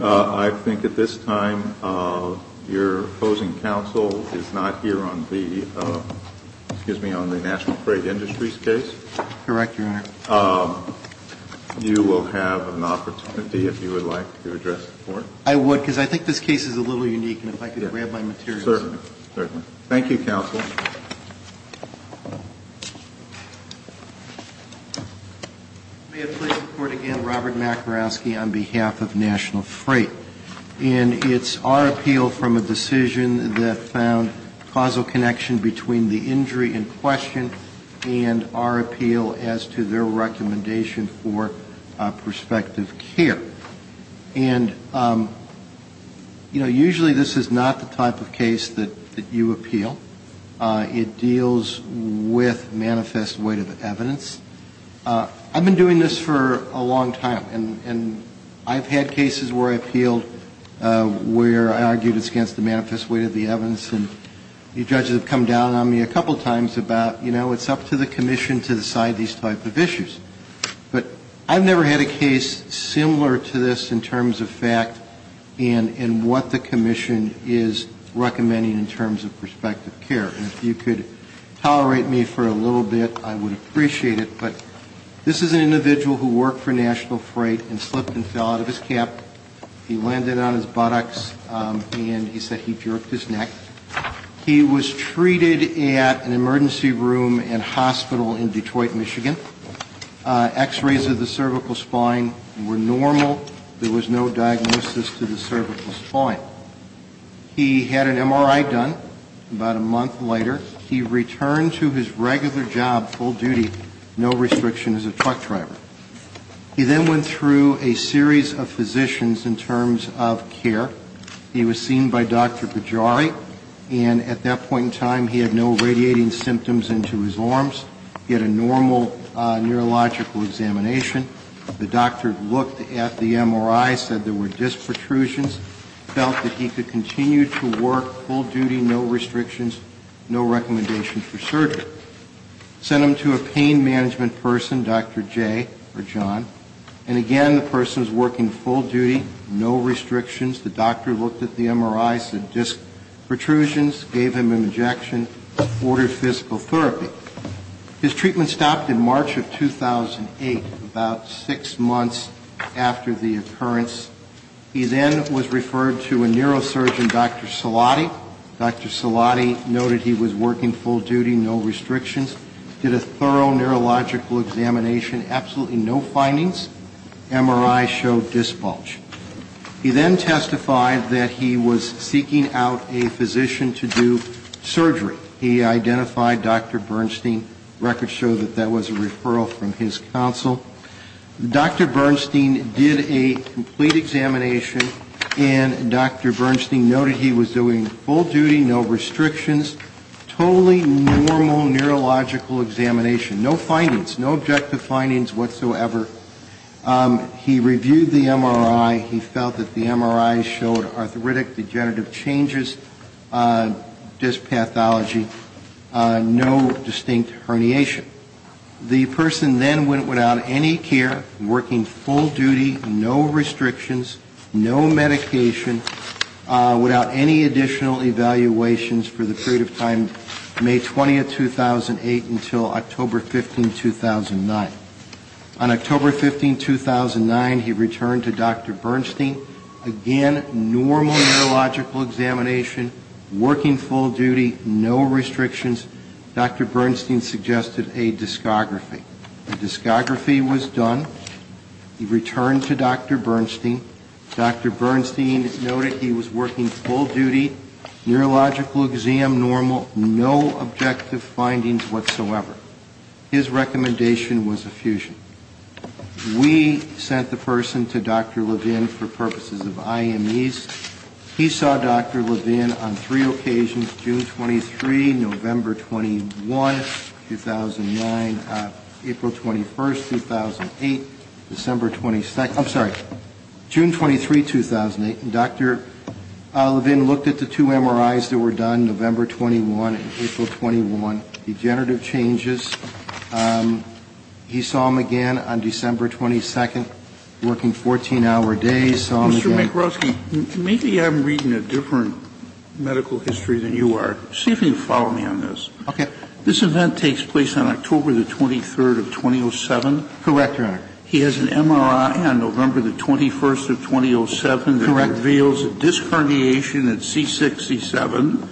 I think at this time, your opposing counsel is not here on the, excuse me, on the National Freight Industries case. Correct, Your Honor. You will have an opportunity, if you would like, to address the Court. I would, because I think this case is a little unique, and if I could grab my materials. Certainly. Certainly. Thank you, Counsel. May it please the Court again, Robert Makarowski on behalf of National Freight. And it's our appeal from a decision that found causal connection between the injury in question and our appeal as to their recommendation for prospective care. And, you know, usually this is not the type of case that you appeal. It deals with manifest weight of evidence. I've been doing this for a long time, and I've had cases where I appealed, where I argued it's against the manifest weight of the evidence, and the judges have come down on me a couple times about, you know, it's up to the Commission to decide these type of issues. But I've never had a case similar to this in terms of fact and what the Commission is recommending in terms of prospective care. And if you could tolerate me for a little bit, I would appreciate it. But this is an individual who worked for National Freight and slipped and fell out of his cap. He landed on his buttocks, and he said he jerked his neck. He was treated at an emergency room and hospital in Detroit, Michigan. X-rays of the cervical spine were normal. There was no diagnosis to the cervical spine. He had an MRI done about a month later. He returned to his regular job, full duty, no restriction as a truck driver. He then went through a series of physicians in terms of care. He was seen by Dr. Pajari, and at that point in time he had no radiating symptoms into his arms. He had a normal neurological examination. The doctor looked at the MRI, said there were disc protrusions, felt that he could continue to work full duty, no restrictions, no recommendation for surgery. Sent him to a pain management person, Dr. Jay, or John, and again the person was working full duty, no restrictions. The doctor looked at the MRI, said disc protrusions, gave him an injection, ordered physical therapy. His treatment stopped in March of 2008, about six months after the occurrence. He then was referred to a neurosurgeon, Dr. Salati. Dr. Salati noted he was working full duty, no restrictions, did a thorough neurological examination, absolutely no findings, MRI showed disc bulge. He then testified that he was seeking out a physician to do surgery. He identified Dr. Bernstein, records show that that was a referral from his counsel. Dr. Bernstein did a complete examination, and Dr. Bernstein noted he was doing full duty, no restrictions, totally normal neurological examination, no findings, no objective findings whatsoever. He reviewed the MRI, he felt that the MRI showed arthritic degenerative changes, disc pathology, no distinct herniation. The person then went without any care, working full duty, no restrictions, no medication, without any additional evaluations for the period of time May 20, 2008 until October 15, 2009. On October 15, 2009, he returned to Dr. Bernstein. Again, normal neurological examination, working full duty, no restrictions. Dr. Bernstein suggested a discography. A discography was done, he returned to Dr. Bernstein. Dr. Bernstein noted he was working full duty, neurological exam normal, no objective findings whatsoever. His recommendation was a fusion. We sent the person to Dr. Levin for purposes of IMEs. He saw Dr. Levin on three occasions, June 23, November 21, 2009, October 15, 2009. April 21, 2008, December 22nd, I'm sorry, June 23, 2008. And Dr. Levin looked at the two MRIs that were done, November 21 and April 21, degenerative changes. He saw him again on December 22nd, working 14-hour days, saw him again. Mr. McGrosky, maybe I'm reading a different medical history than you are. See if you can follow me on this. Okay. This event takes place on October the 23rd of 2007. Correct, Your Honor. He has an MRI on November the 21st of 2007 that reveals a disc herniation at C6, C7,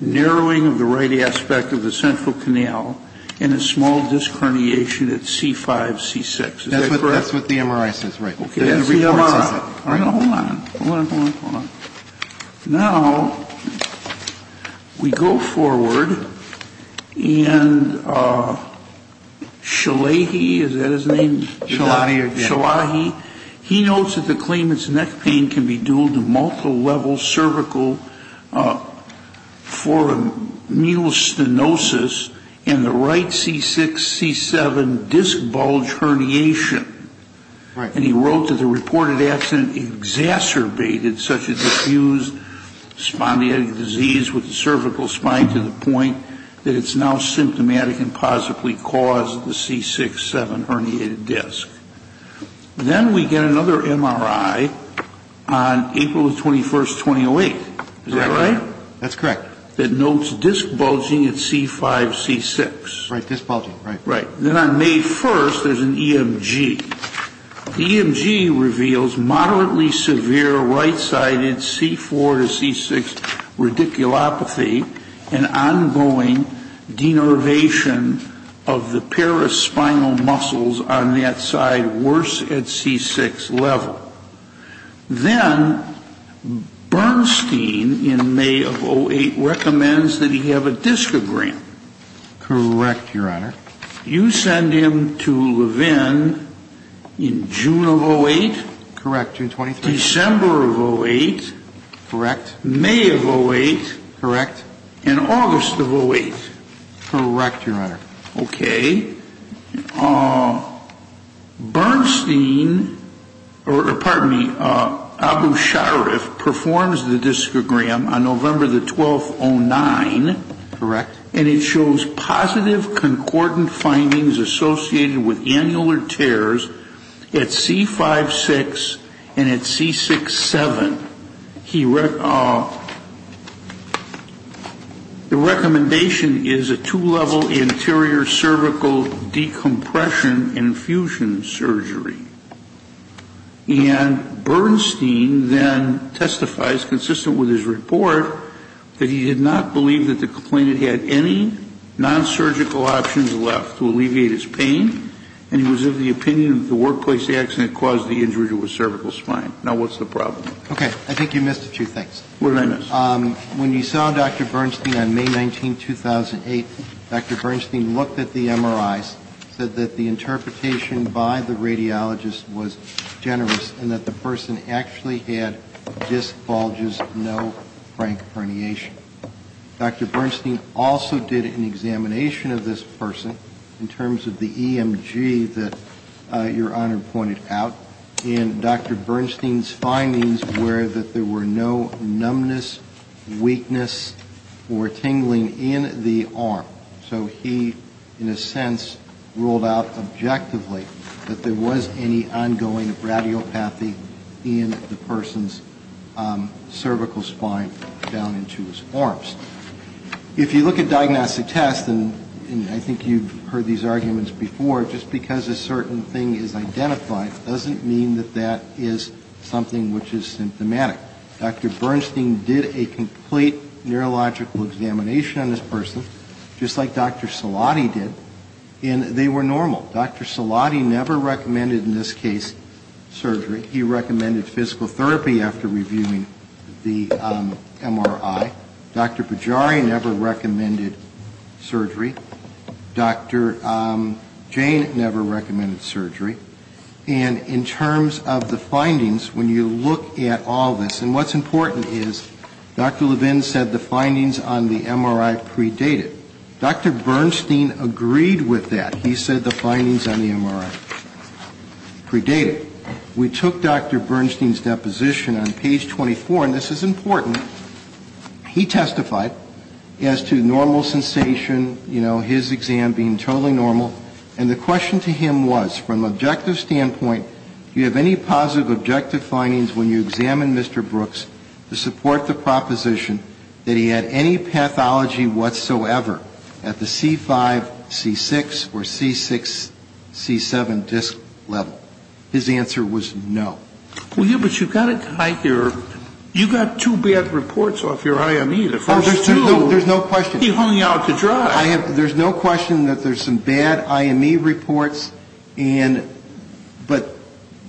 narrowing of the right aspect of the central canal, and a small disc herniation at C5, C6. Is that correct? That's what the MRI says, right. Okay. Hold on. Hold on, hold on, hold on. Now, we go forward and Shalahi, is that his name? Shalahi. Shalahi. He notes that the claimant's neck pain can be due to multilevel cervical foramus stenosis and the right C6, C7 disc bulge herniation. Right. And he wrote that the reported accident exacerbated such a diffused spondiotic disease with the cervical spine to the point that it's now symptomatic and possibly caused the C6, C7 herniated disc. Then we get another MRI on April the 21st, 2008. Is that right? That's correct. That notes disc bulging at C5, C6. Right, disc bulging, right. Right. Then on May 1st, there's an EMG. The EMG reveals moderately severe right-sided C4 to C6 radiculopathy and ongoing denervation of the paraspinal muscles on that side worse at C6 level. Then Bernstein in May of 2008 recommends that he have a discogram. Correct, Your Honor. You send him to Levin in June of 2008. Correct, June 23rd. December of 2008. Correct. May of 2008. Correct. And August of 2008. Correct, Your Honor. Okay. Bernstein, or pardon me, Abu Sharif performs the discogram on November the 12th, 2009. Correct. And it shows positive concordant findings associated with annular tears at C5, 6, and at C6, 7. The recommendation is a two-level anterior cervical decompression infusion surgery. And Bernstein then testifies, consistent with his report, that he did not believe that the complainant had any nonsurgical options left to alleviate his pain, and he was of the opinion that the workplace accident caused the injury to his cervical spine. Now, what's the problem? Okay. I think you missed a few things. What did I miss? When you saw Dr. Bernstein on May 19, 2008, Dr. Bernstein looked at the MRIs, said that the interpretation by the radiologist was generous and that the person actually had disc bulges, no frank herniation. Dr. Bernstein also did an examination of this person in terms of the EMG that Your Honor pointed out, and Dr. Bernstein's findings were that there were no numbness, weakness, or tingling in the arm. So he, in a sense, ruled out objectively that there was any ongoing radiopathy in the person's cervical spine down into his arms. If you look at diagnostic tests, and I think you've heard these arguments before, just because a certain thing is identified doesn't mean that that is something which is symptomatic. Dr. Bernstein did a complete neurological examination on this person, just like Dr. Salati did, and they were normal. Dr. Salati never recommended, in this case, surgery. He recommended physical therapy after reviewing the MRI. Dr. Bajari never recommended surgery. Dr. Jane never recommended surgery. And in terms of the findings, when you look at all this, and what's important is Dr. Levin said the findings on the MRI predated. Dr. Bernstein agreed with that. He said the findings on the MRI predated. We took Dr. Bernstein's deposition on page 24, and this is important. He testified as to normal sensation, you know, his exam being totally normal. And the question to him was, from an objective standpoint, do you have any positive objective findings when you examine Mr. Brooks to support the proposition that he had any pathology whatsoever at the C5, C6, or C6, C7 disc level? His answer was no. Well, yeah, but you've got it right here. You've got two bad reports off your IME, the first two. Oh, there's no question. He hung out to dry. There's no question that there's some bad IME reports.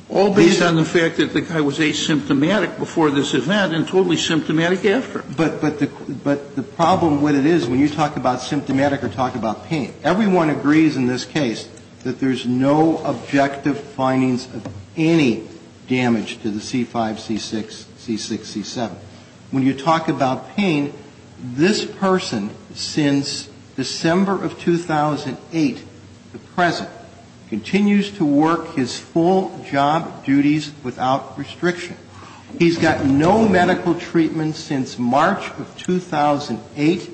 All based on the fact that the guy was asymptomatic before this event and totally symptomatic after. But the problem with it is, when you talk about symptomatic or talk about pain, everyone agrees in this case that there's no objective findings of any damage to the C5, C6, C6, C7. When you talk about pain, this person, since December of 2008 to present, continues to work his full job duties without restriction. He's gotten no medical treatment since March of 2008.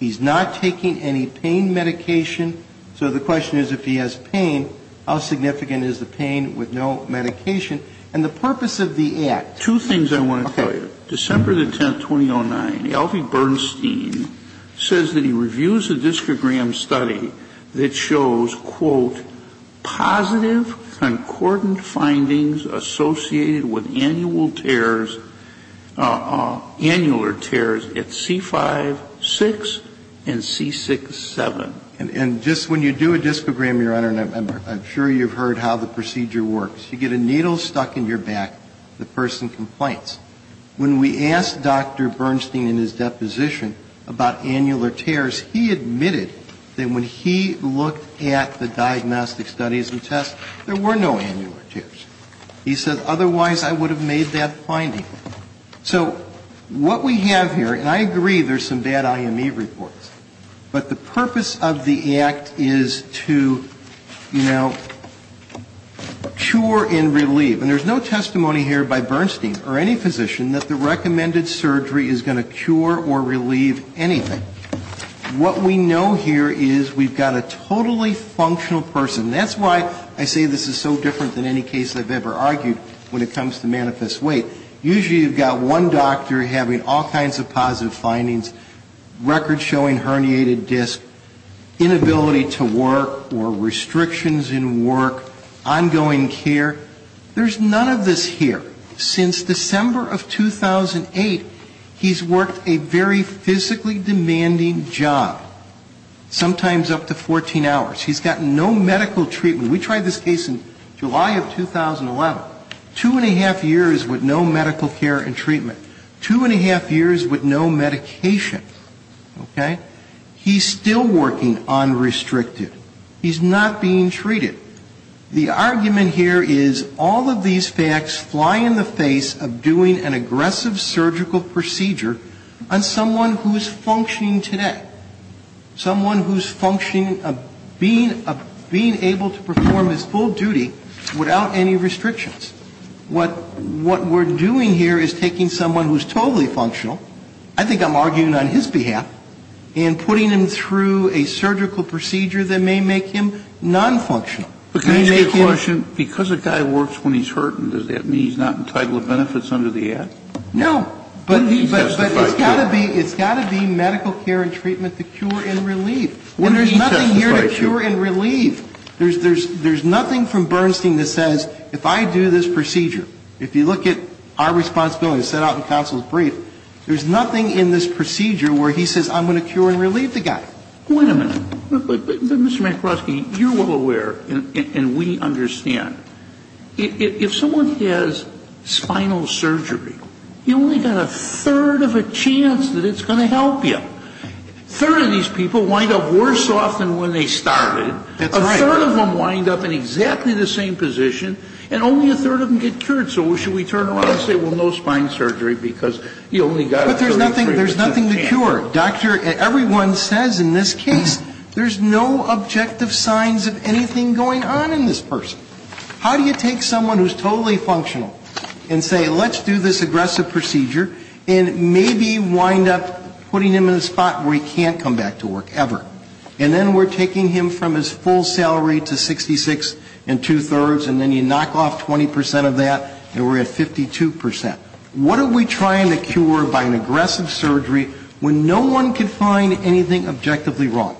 He's not taking any pain medication. So the question is, if he has pain, how significant is the pain with no medication? And the purpose of the act. Two things I want to tell you. December the 10th, 2009, Elvie Bernstein says that he reviews a disprogram study that shows, quote, positive concordant findings associated with annual tears at C5, 6, and C6, 7. And just when you do a disprogram, Your Honor, and I'm sure you've heard how the procedure works, you get a needle stuck in your back, the person complains. When we asked Dr. Bernstein in his deposition about annular tears, he admitted that when he looked at the diagnostic studies and tests, there were no annular tears. He said, otherwise, I would have made that finding. So what we have here, and I agree there's some bad IME reports, but the purpose of the And there's no testimony here by Bernstein or any physician that the recommended surgery is going to cure or relieve anything. What we know here is we've got a totally functional person. That's why I say this is so different than any case I've ever argued when it comes to manifest weight. Usually you've got one doctor having all kinds of positive findings, record- or restrictions in work, ongoing care. There's none of this here. Since December of 2008, he's worked a very physically demanding job, sometimes up to 14 hours. He's gotten no medical treatment. We tried this case in July of 2011. Two and a half years with no medical care and treatment. Two and a half years with no medication. Okay? He's still working unrestricted. He's not being treated. The argument here is all of these facts fly in the face of doing an aggressive surgical procedure on someone who is functioning today. Someone who's functioning, being able to perform his full duty without any restrictions. What we're doing here is taking someone who's totally functional, I think I'm arguing on his side, and putting him through a surgical procedure that may make him non-functional. Kennedy. But can I ask you a question? Because a guy works when he's hurting, does that mean he's not entitled to benefits under the Act? No. But it's got to be medical care and treatment to cure and relieve. And there's nothing here to cure and relieve. There's nothing from Bernstein that says if I do this procedure, if you look at our responsibilities set out in counsel's brief, there's nothing in this procedure where he says I'm going to cure and relieve the guy. Wait a minute. Mr. McCloskey, you're well aware, and we understand, if someone has spinal surgery, you only got a third of a chance that it's going to help you. A third of these people wind up worse off than when they started. That's right. A third of them wind up in exactly the same position, and only a third of them get cured. So should we turn around and say, well, no spine surgery, because you only got a 33% chance? But there's nothing to cure. Doctor, everyone says in this case there's no objective signs of anything going on in this person. How do you take someone who's totally functional and say let's do this aggressive procedure, and maybe wind up putting him in a spot where he can't come back to work ever? And then we're taking him from his full salary to 66 and two-thirds, and then you knock off 20% of that, and we're at 52%. What are we trying to cure by an aggressive surgery when no one can find anything objectively wrong?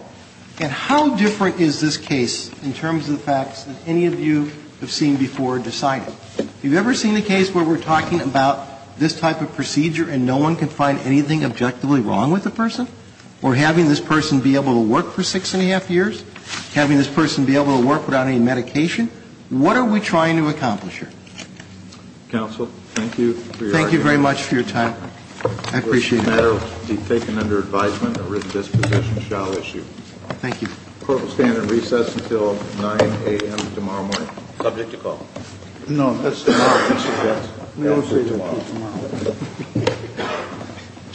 And how different is this case in terms of the facts that any of you have seen before deciding? Have you ever seen a case where we're talking about this type of procedure and no one can find anything objectively wrong with the person? Or having this person be able to work for six and a half years? Having this person be able to work without any medication? What are we trying to accomplish here? Counsel, thank you for your time. Thank you very much for your time. I appreciate it. This matter will be taken under advisement, and this position shall issue. Thank you. The court will stand at recess until 9 a.m. tomorrow morning. Subject to call. No, that's tomorrow. We don't say tomorrow.